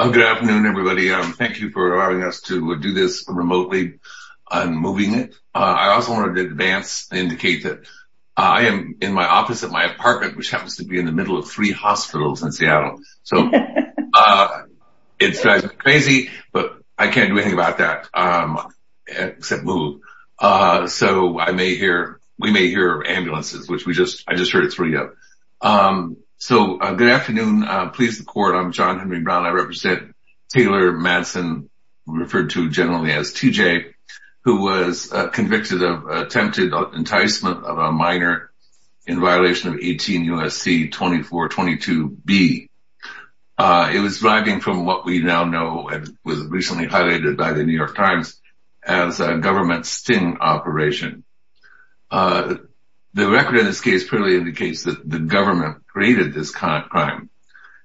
Good afternoon, everybody. Thank you for allowing us to do this remotely and moving it. I also wanted to advance and indicate that I am in my office at my apartment, which happens to be in the middle of three hospitals in Seattle. So it's crazy, but I can't do anything about that, except move. So I may hear, we may hear ambulances, which we just, I just heard it through you. So good afternoon, please the court. I'm John Henry Brown. I represent Taylor Matson, referred to generally as TJ, who was convicted of attempted enticement of a minor in violation of 18 U.S.C. 2422B. It was deriving from what we now know, and was recently highlighted by the New York Times as a government sting operation. The record in this case clearly indicates that the government created this crime.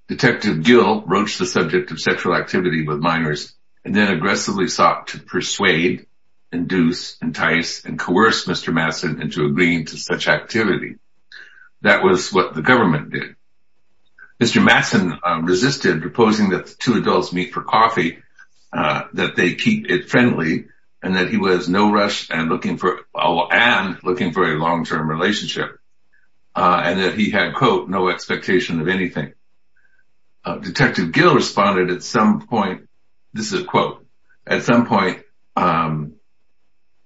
Detective Gill broached the subject of sexual activity with minors, and then aggressively sought to persuade, induce, entice, and coerce Mr. Matson into agreeing to such activity. That was what the government did. Mr. Matson resisted proposing that the two adults meet for and looking for a long-term relationship, and that he had, quote, no expectation of anything. Detective Gill responded at some point, this is a quote, at some point,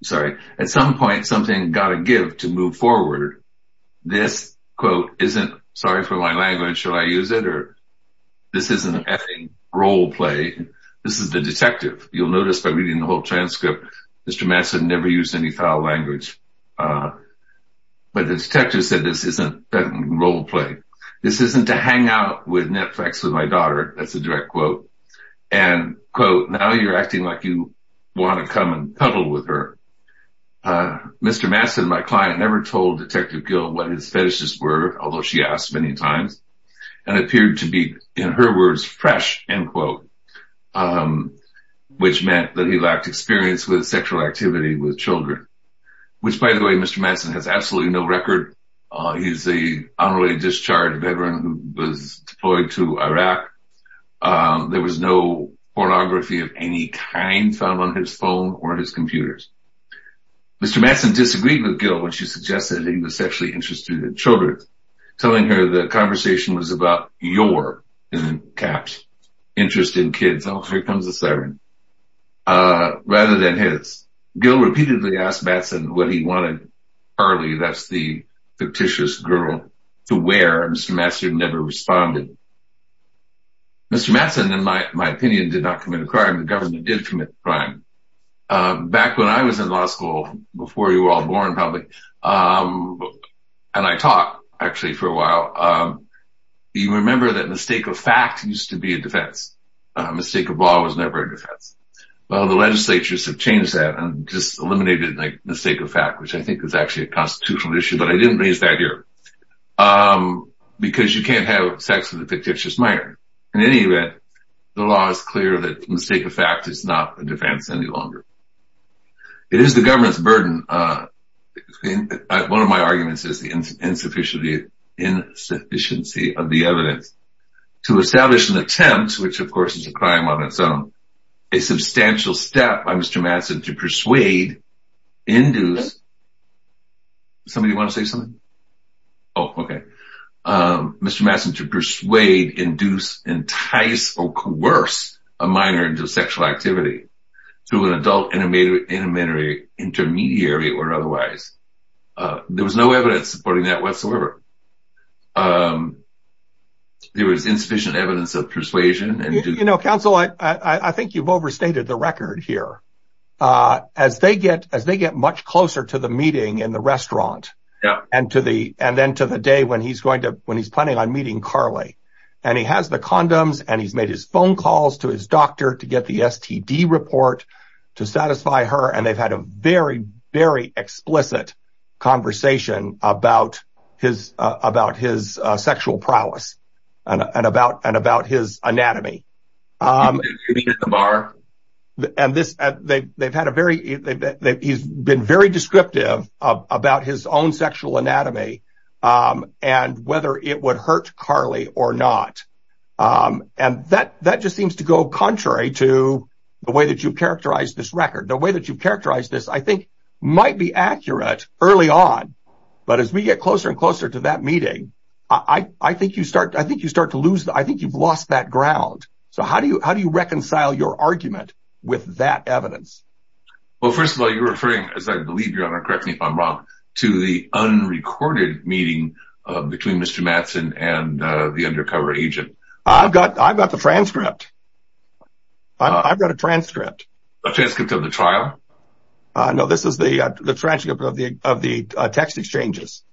sorry, at some point, something got to give to move forward. This quote isn't, sorry for my language, should I use it? Or this isn't an F-ing role play. This is the detective. You'll notice by reading the whole transcript, Mr. Matson never used any foul language. But the detective said this isn't an F-ing role play. This isn't to hang out with Netflix with my daughter. That's a direct quote. And, quote, now you're acting like you want to come and cuddle with her. Mr. Matson, my client, never told Detective Gill what his fetishes were, although she asked many times, and appeared to be, in her words, fresh, end quote, which meant that he lacked experience with sexual activity with children. Which, by the way, Mr. Matson has absolutely no record. He's a honorary discharged veteran who was deployed to Iraq. There was no pornography of any kind found on his phone or his computers. Mr. Matson disagreed with Gill when she suggested he was sexually interested in children, telling her the conversation was about your, in caps, interest in kids. Oh, here comes the siren. Rather than his. Gill repeatedly asked Matson what he wanted Carly, that's the fictitious girl, to wear. Mr. Matson never responded. Mr. Matson, in my opinion, did not commit a crime. The government did commit a crime. Back when I was in law school, before you were all born, probably, and I taught, actually, for a while, you remember that mistake of fact used to be a defense. Mistake of law was never a defense. Well, the legislatures have changed that and just eliminated the mistake of fact, which I think is actually a constitutional issue, but I didn't raise that here. Because you can't have sex with a fictitious minor. In any event, the law is clear that mistake of fact is not a defense any longer. It is the government's burden. One of my arguments is the insufficiency of the evidence to establish an attempt, which of course is a crime on its own, a substantial step by Mr. Matson to persuade, induce, somebody want to say something? Oh, okay. Mr. Matson to persuade, induce, entice, or coerce a minor into sexual activity to an adult intermediary or otherwise. There was no evidence supporting that whatsoever. There was insufficient evidence of persuasion. Counsel, I think you've overstated the record here. As they get much closer to the meeting in the restaurant and then to the day when he's planning on meeting Carly, and he has the condoms and he's made his phone calls to his doctor to get the STD report to satisfy her. They've had a very, very explicit conversation about his sexual prowess and about his anatomy. He's been very descriptive about his own sexual anatomy and whether it would hurt Carly or not. That just seems to go contrary to the way that you characterize this record. The way that you characterize this, I think might be accurate early on, but as we get closer and closer to that meeting, I think you've lost that ground. So how do you reconcile your argument with that evidence? Well, first of all, you're referring, as I believe you are, correct me if I'm wrong, to the unrecorded meeting between Mr. Mattson and the undercover agent. I've got the transcript. I've got a transcript. A transcript of the trial? No, this is the transcript of the text exchanges.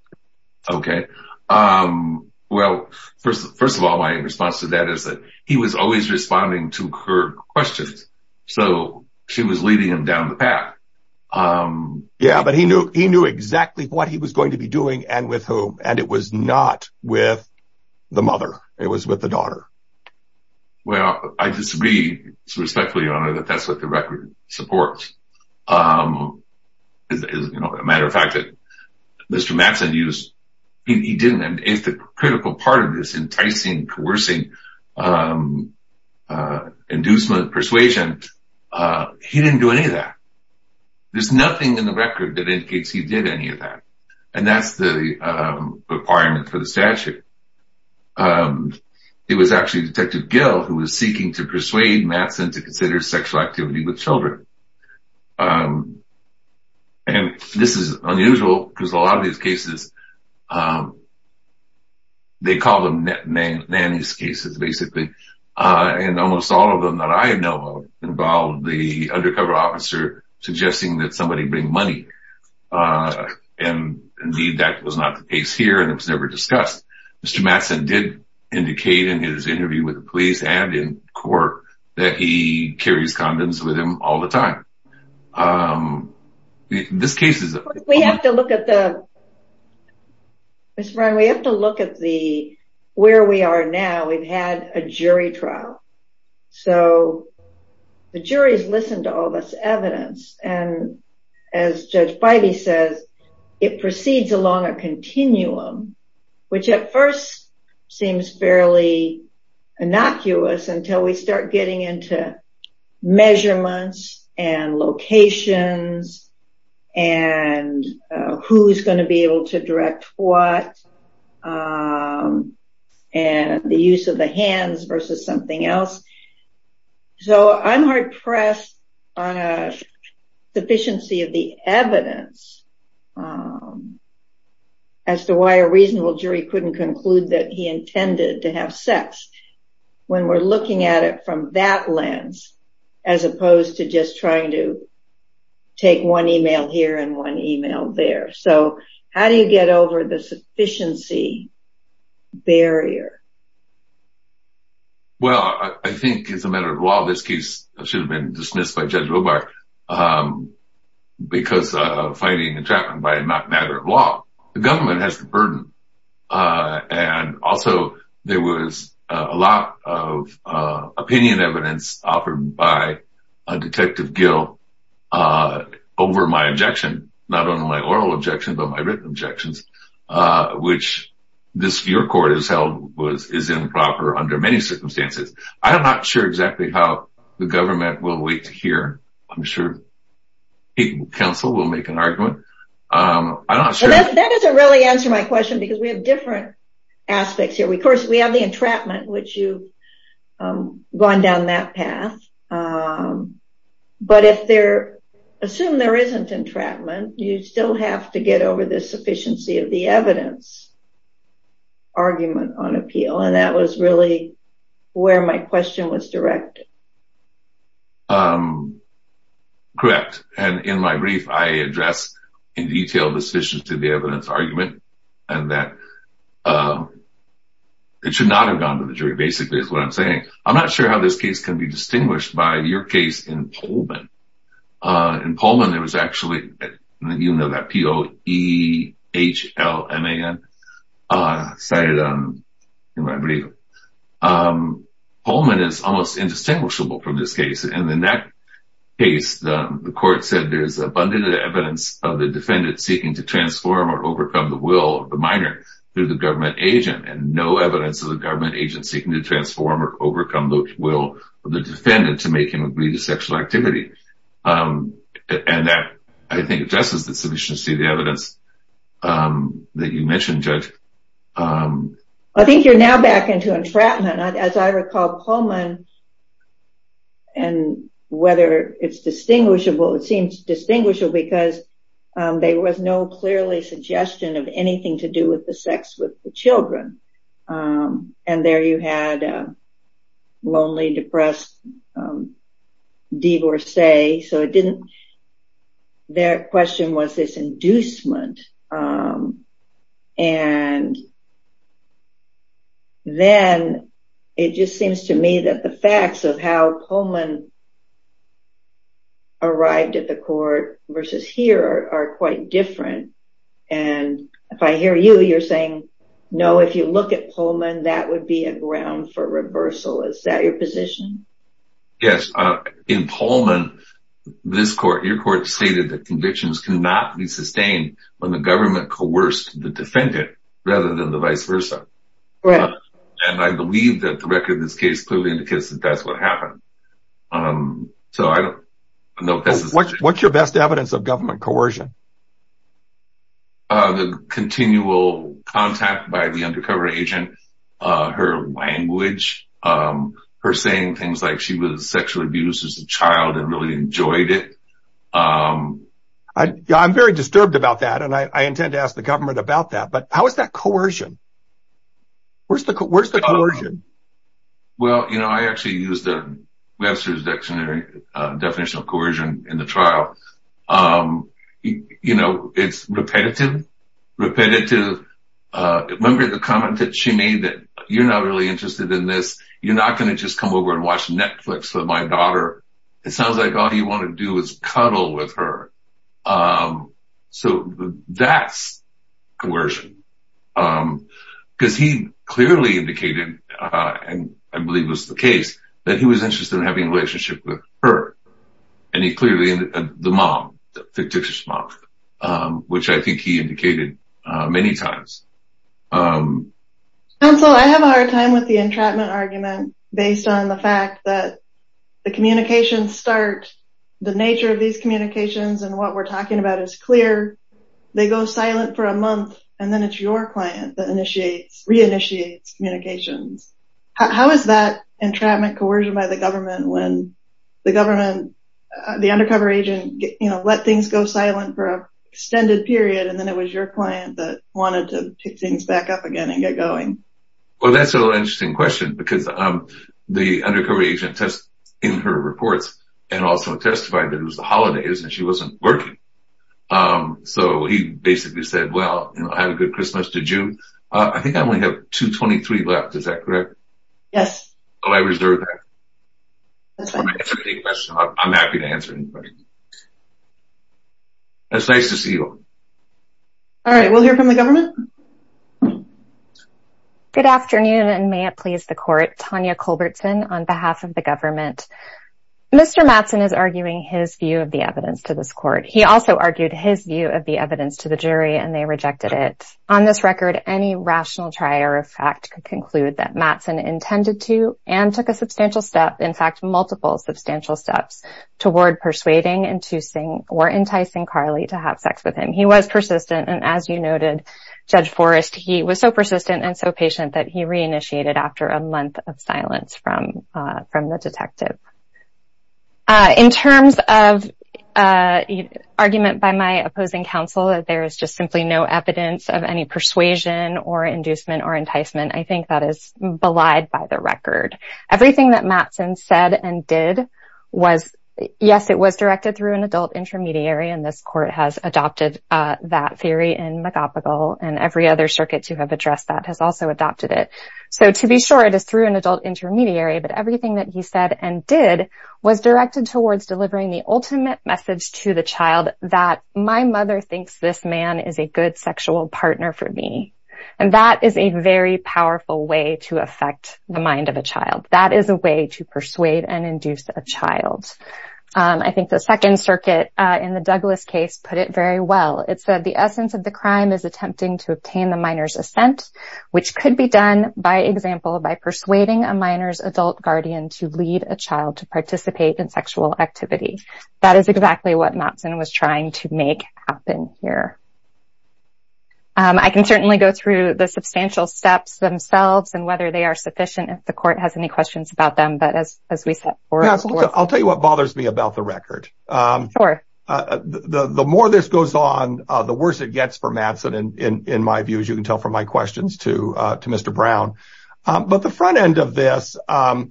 Okay. Well, first of all, my response to that is that he was always responding to her questions, so she was leading him down the path. Yeah, but he knew exactly what he was going to be doing and with whom, and it was not with the mother. It was with the daughter. Well, I disagree, respectfully, Your Honor, that that's what the record supports. As a matter of fact, Mr. Mattson, he didn't. It's the critical part of this enticing, coercing, inducement, persuasion. He didn't do any of that. There's nothing in the record that indicates he did any of that, and that's the requirement for the statute. It was actually Detective Gill who was seeking to persuade Mattson to consider sexual activity with children, and this is unusual because a lot of these cases, they call them nanny's cases, basically, and almost all of them that I know of involve the undercover officer suggesting that somebody bring money, and indeed, that was not the case here, and it was never discussed. Mr. Mattson did indicate in his interview with the police and in court that he carries condoms with him all the time. This case is a- We have to look at the- Ms. Brown, we have to look at the- where we are now. We've had a jury trial, so the jury's listened to all this evidence, and as Judge Beide says, it proceeds along a continuum, which at first seems fairly innocuous until we start getting into measurements and locations and who's going to be able to direct what, and the use of the hands versus something else, so I'm hard-pressed on a sufficiency of the evidence as to why a reasonable jury couldn't conclude that he intended to have sex when we're looking at it from that lens as opposed to just trying to take one email here and one email there, so how do you get over the sufficiency barrier? Well, I think as a matter of law, this case should have been dismissed by Judge Wobar because of fighting and trapping, but it's not a matter of law. The government has the burden, and also there was a lot of opinion evidence offered by Detective Gill over my objection, not only my oral objection, but my written objections, which your court has held is improper under many circumstances. I'm not sure exactly how the government will wait to hear. I'm sure the council will make an argument. I'm not sure- That doesn't really answer my question because we have different aspects here. Of course, we have the entrapment, which you've gone down that path, but assume there isn't entrapment, you still have to get over the sufficiency of the evidence argument on appeal, and that was really where my question was directed. Correct, and in my brief, I address in detail the sufficiency of the evidence argument and that it should not have gone to the jury, basically, is what I'm saying. I'm not sure how this case can be distinguished by your case in Pullman. In Pullman, there was actually, you know that P-O-E-H-L-M-A-N, cited in my brief. Pullman is almost indistinguishable from this case, and in that case, the court said there's abundant evidence of the defendant seeking to transform or overcome the will of the minor through the government agent, and no evidence of the government agent seeking to transform or overcome the will of the defendant to make him agree to sexual activity, and that, I think, addresses the sufficiency of the evidence that you mentioned, Judge. I think you're now back into entrapment. As I recall, Pullman, and whether it's distinguishable, it seems distinguishable because there was no clearly suggestion of anything to do with the so it didn't, their question was this inducement, and then it just seems to me that the facts of how Pullman arrived at the court versus here are quite different, and if I hear you, you're saying, no, if you look at Pullman, that would be a ground for reversal. Is that your position? Yes. In Pullman, this court, your court stated that convictions cannot be sustained when the government coerced the defendant rather than the vice versa, and I believe that the record of this case clearly indicates that that's what happened, so I don't know. What's your best evidence of government coercion? The continual contact by the undercover agent, her language, her saying things like she was sexually abused as a child and really enjoyed it. I'm very disturbed about that, and I intend to ask the government about that, but how is that coercion? Where's the coercion? Well, you know, I actually used Webster's definition of coercion in the trial. It's repetitive. Remember the comment that she made that you're not really interested in this. You're not going to just come over and watch Netflix with my daughter. It sounds like all you want to do is cuddle with her, so that's coercion, because he clearly indicated, and I believe was the case, that he was interested in having a relationship with her, and he clearly ended up with the mom, the dictator's mom, which I think he indicated many times. Counsel, I have a hard time with the entrapment argument based on the fact that the communications start, the nature of these communications and what we're talking about is clear. They go silent for a month, and then it's your client that initiates, re-initiates communications. How is that entrapment coercion by the government when the government, the undercover agent, let things go silent for an extended period, and then it was your client that wanted to pick things back up again and get going? Well, that's an interesting question, because the undercover agent tests in her reports and also testified that it was the holidays and she wasn't working, so he basically said, well, have a good Christmas to June. I think I only have 223 left, is that correct? Yes. Oh, I reserved that? That's fine. I'm happy to answer any questions. It's nice to see you. All right, we'll hear from the government. Good afternoon, and may it please the court. Tanya Culbertson on behalf of the government. Mr. Mattson is arguing his view of the evidence to this court. He also argued his view of the evidence to the jury, and they rejected it. On this record, any rational trier of fact could conclude that Mattson intended to and took a substantial step, in fact, multiple substantial steps toward persuading and enticing Carly to have sex with him. He was persistent, and as you noted, Judge Forrest, he was so persistent and so patient that he reinitiated after a month of silence from the detective. In terms of argument by my opposing counsel that there is just simply no evidence of any persuasion or inducement or enticement, I think that is belied by the record. Everything that Mattson said and did was, yes, it was directed through adult intermediary, and this court has adopted that theory in McApagal, and every other circuit to have addressed that has also adopted it. So, to be sure, it is through an adult intermediary, but everything that he said and did was directed towards delivering the ultimate message to the child that my mother thinks this man is a good sexual partner for me, and that is a very powerful way to affect the mind of a child. That is a way to persuade and induce a child. I think the second circuit in the Douglas case put it very well. It said, the essence of the crime is attempting to obtain the minor's assent, which could be done, by example, by persuading a minor's adult guardian to lead a child to participate in sexual activity. That is exactly what Mattson was trying to make happen here. I can certainly go through the substantial steps themselves and whether they are sufficient. If the court has any questions about them, but as we said, I'll tell you what the more this goes on, the worse it gets for Mattson, in my view, as you can tell from my questions to Mr. Brown. But the front end of this, yeah,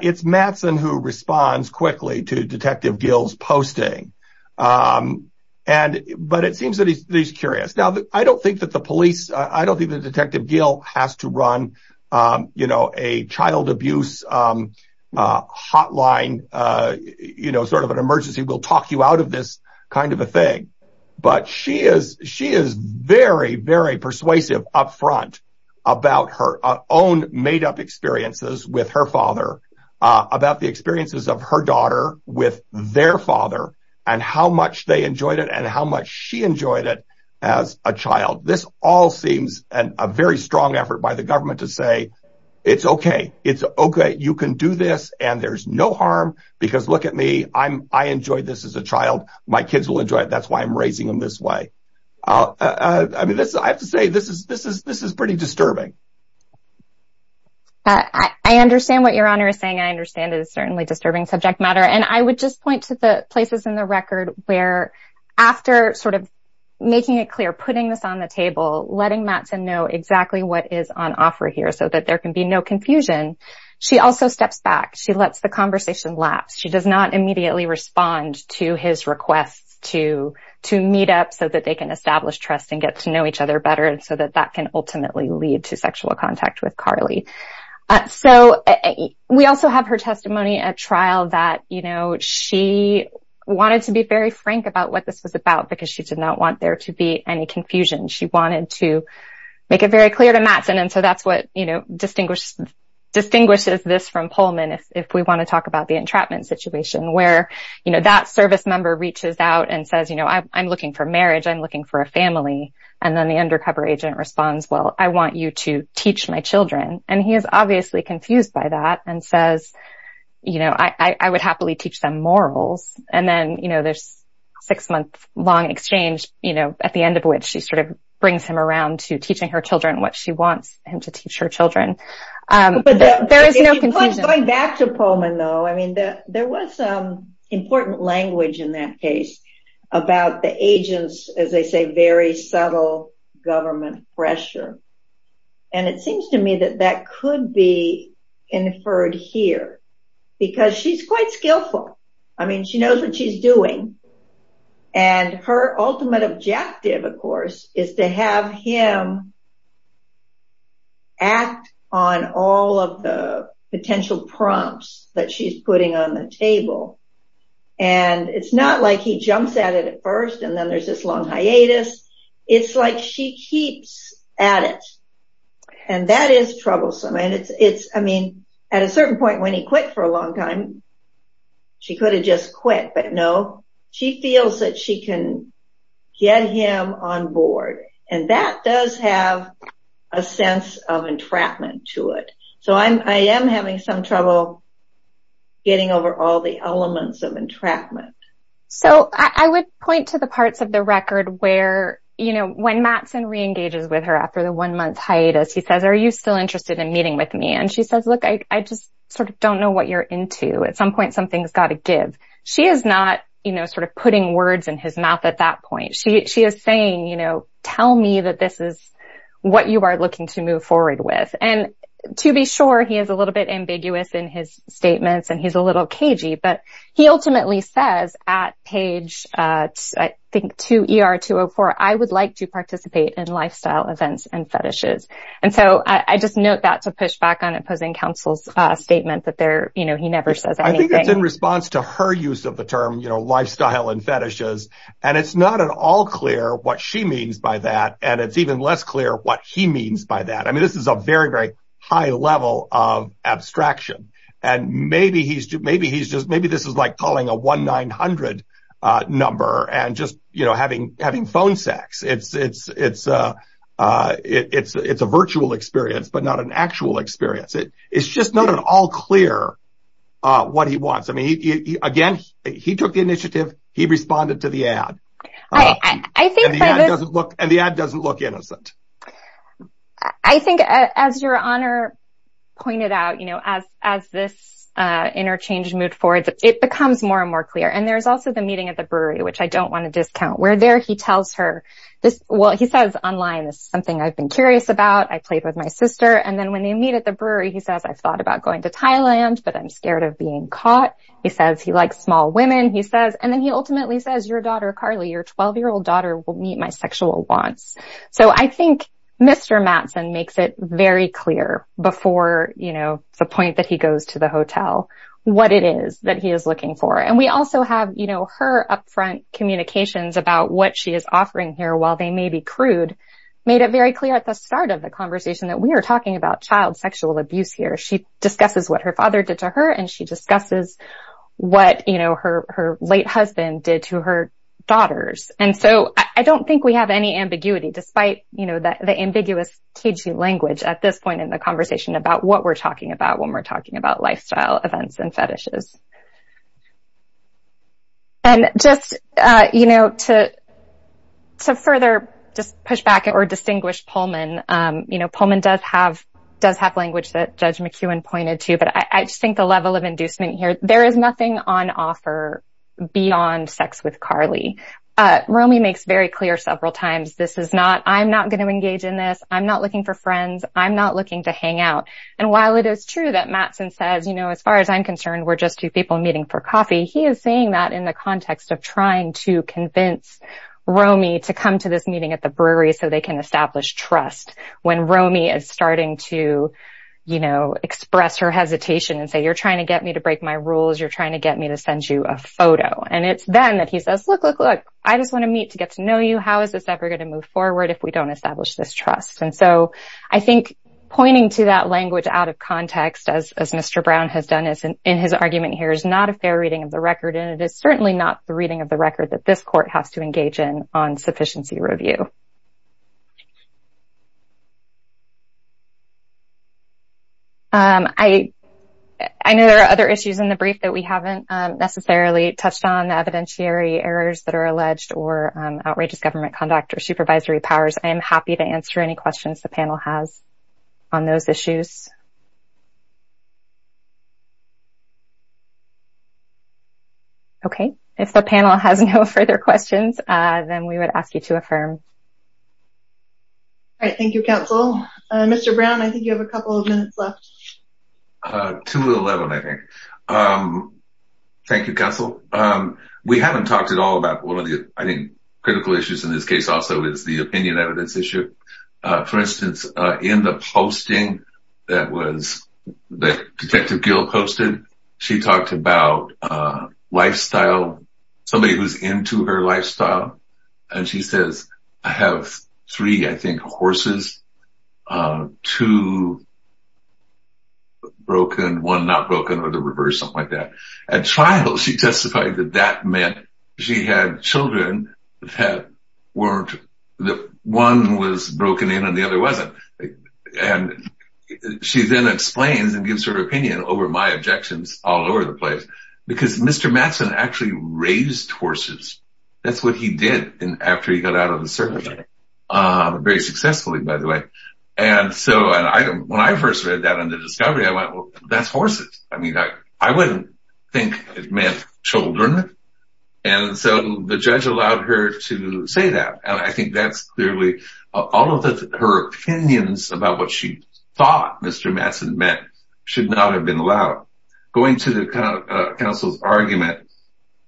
it's Mattson who responds quickly to Detective Gill's posting, but it seems that he's curious. Now, I don't think that the police, I don't think that Detective Gill has to run a child abuse hotline, sort of an emergency, we'll talk you out of this kind of a thing. But she is very, very persuasive up front about her own made up experiences with her father, about the experiences of her daughter with their father, and how much they enjoyed it, and how much she enjoyed it as a child. This all seems a very strong effort by the government to say, it's okay, it's okay, you can do this, and there's no harm, because look at me, I enjoyed this as a child, my kids will enjoy it, that's why I'm raising them this way. I mean, I have to say, this is pretty disturbing. I understand what your honor is saying, I understand it is certainly disturbing subject matter. And I would just point to the places in the record where after sort of making it clear, putting this on the table, letting Matson know exactly what is on offer here, so that there can be no confusion, she also steps back, she lets the conversation lapse, she does not immediately respond to his requests to meet up so that they can establish trust and get to know each other better, and so that that can ultimately lead to sexual contact with Carly. So, we also have her testimony at trial that, you know, she wanted to be very frank about what this was about, because she did not want there to be any confusion, she wanted to make it very clear to Matson, and so that's what, you know, distinguishes this from Pullman, if we want to talk about the entrapment situation, where, you know, that service member reaches out and says, you know, I'm looking for marriage, I'm looking for a family, and then the undercover agent responds, well, I want you to teach my children, and he is obviously confused by that, and says, you know, I would happily teach them morals, and then, you know, there's a six-month-long exchange, you know, at the end of which she sort of brings him around to teaching her children what she wants him to teach her children, but there is no confusion. Going back to Pullman, though, I mean, there was some important language in that case about the agent's, as they say, very subtle government pressure, and it seems to me that that could be inferred here, because she's quite skillful, I mean, she knows what she's doing, and her ultimate objective, of course, is to have him act on all of the potential prompts that she's putting on the table, and it's not like he jumps at it at first, and then there's this long hiatus, it's like she keeps at it, and that is troublesome, and it's, I mean, at a certain point, when he quit for a long time, she could have just quit, but no, she feels that she can get him on board, and that does have a sense of entrapment to it, so I am having some trouble getting over all the elements of entrapment. So, I would point to the parts of the record where, you know, when Mattson re-engages with her after the one-month hiatus, he says, are you still interested in meeting with me, and she says, look, I just sort of don't know what you're into. At some point, something's got to give. She is not, you know, sort of putting words in his mouth at that point. She is saying, tell me that this is what you are looking to move forward with, and to be sure, he is a little bit ambiguous in his statements, and he's a little cagey, but he ultimately says at page, I think, 2 ER 204, I would like to participate in lifestyle events and fetishes, and so I just note that to push back on opposing counsel's statement that he never says anything. I think it's in response to her use of the term, you know, lifestyle and fetishes, and it's not at all clear what she means by that, and it's even less clear what he means by that. I mean, this is a very, very high level of abstraction, and maybe he's just, maybe this is like calling a 1-900 number and just, you know, having phone sex. It's a virtual experience, but not an actual experience. It's just not at all clear what he wants. I mean, again, he took the initiative, he responded to the ad, and the ad doesn't look innocent. I think, as your honor pointed out, you know, as this interchange moved forward, it becomes more and more clear, and there's also the meeting at the brewery, which I don't want to discount, where there he tells her this, well, he says online, this is something I've been curious about, I played with my sister, and then when they meet at the brewery, he says, I've thought about going to Thailand, but I'm scared of being caught. He says he likes small women, he says, and then he ultimately says, your daughter, Carly, your 12-year-old daughter will meet my sexual wants. So, I think Mr. Mattson makes it very clear before, you know, the point that he goes to the hotel, what it is that he is looking for, and we also have, you know, her upfront communications about what she is offering here, while they may be crude, made it very clear at the start of the conversation that we are talking about child sexual abuse here. She discusses what her father did to her, and she discusses what, you know, her late husband did to her daughters. And so, I don't think we have any ambiguity, despite, you know, the ambiguous, cagey language at this point in the conversation about what we're talking about when we're talking about lifestyle events and fetishes. And just, you know, to further just push back or distinguish Pullman, you know, Pullman does have language that Judge McEwen pointed to, but I just think the level of inducement here, there is nothing on offer beyond sex with Carly. Romy makes very clear several times, this is not, I'm not going to engage in this, I'm not looking for friends, I'm not looking to hang for coffee. He is saying that in the context of trying to convince Romy to come to this meeting at the brewery so they can establish trust, when Romy is starting to, you know, express her hesitation and say, you're trying to get me to break my rules, you're trying to get me to send you a photo. And it's then that he says, look, look, look, I just want to meet to get to know you. How is this ever going to move forward if we don't establish this trust? And so, I think pointing to that language out of context, as Mr. Brown has done in his argument here, is not a fair reading of the record, and it is certainly not the reading of the record that this court has to engage in on sufficiency review. I know there are other issues in the brief that we haven't necessarily touched on, the evidentiary errors that are alleged or outrageous government conduct or supervisory powers. I am happy to answer any questions the panel has on those issues. Okay, if the panel has no further questions, then we would ask you to affirm. All right, thank you, counsel. Mr. Brown, I think you have a couple of minutes left. 2 to 11, I think. Thank you, counsel. We haven't talked at all about one of the, I think, critical issues in this case also is the opinion evidence issue. For instance, in the posting that Detective Gill posted, she talked about lifestyle, somebody who's into her lifestyle, and she says, I have three, I think, horses, two broken, one not broken, or the reverse, something like that. At trial, she testified that that meant she had children that one was broken in and the other wasn't. She then explains and gives her opinion over my objections all over the place, because Mr. Mattson actually raised horses. That's what he did after he got out of the service, very successfully, by the way. When I first read that under discovery, I went, think it meant children, and so the judge allowed her to say that. I think that's clearly, all of her opinions about what she thought Mr. Mattson meant should not have been allowed. Going to the counsel's argument,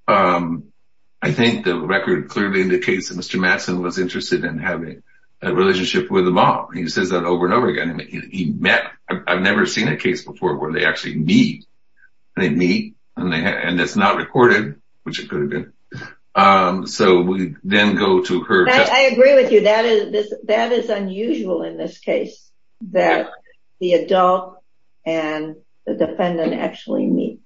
I think the record clearly indicates that Mr. Mattson was interested in having a relationship with a mom. He says that over and over again. He met, I've never seen a case before where they actually meet. They meet and it's not recorded, which it could have been. We then go to her- I agree with you. That is unusual in this case, that the adult and the defendant actually meet.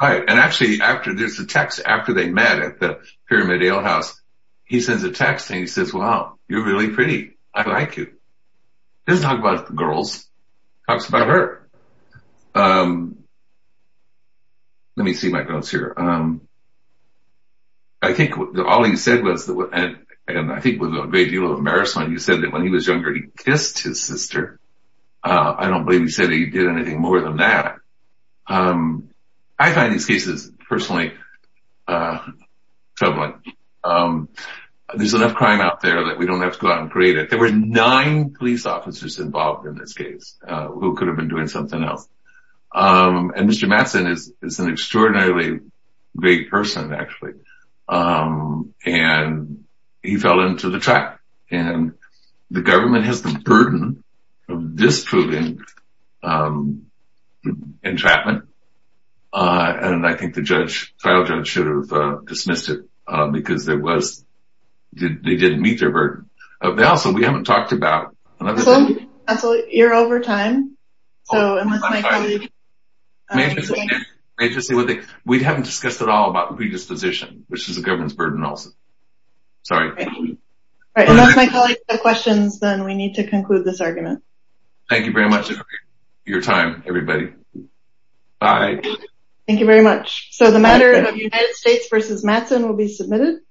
Actually, there's a text after they met at the Pyramid Ale House. He sends a text and he says, wow, you're really pretty. I like you. Doesn't talk about the girls. Talks about her. Let me see my notes here. I think all he said was, and I think with a great deal of embarrassment, he said that when he was younger, he kissed his sister. I don't believe he said he did anything more than that. I find these cases, personally, troubling. There's enough crime out there that we don't have to uncreate it. There were nine police officers involved in this case who could have been doing something else. Mr. Mattson is an extraordinarily great person, actually. He fell into the trap. The government has the burden of disproving entrapment. I think the trial judge should have because they didn't meet their burden. Also, we haven't talked about- You're over time. We haven't discussed at all about predisposition, which is a government's burden also. Sorry. Unless my colleagues have questions, then we need to conclude this argument. Thank you very much for your time, everybody. Bye. Thank you very much. The matter of United States versus Mattson will be submitted.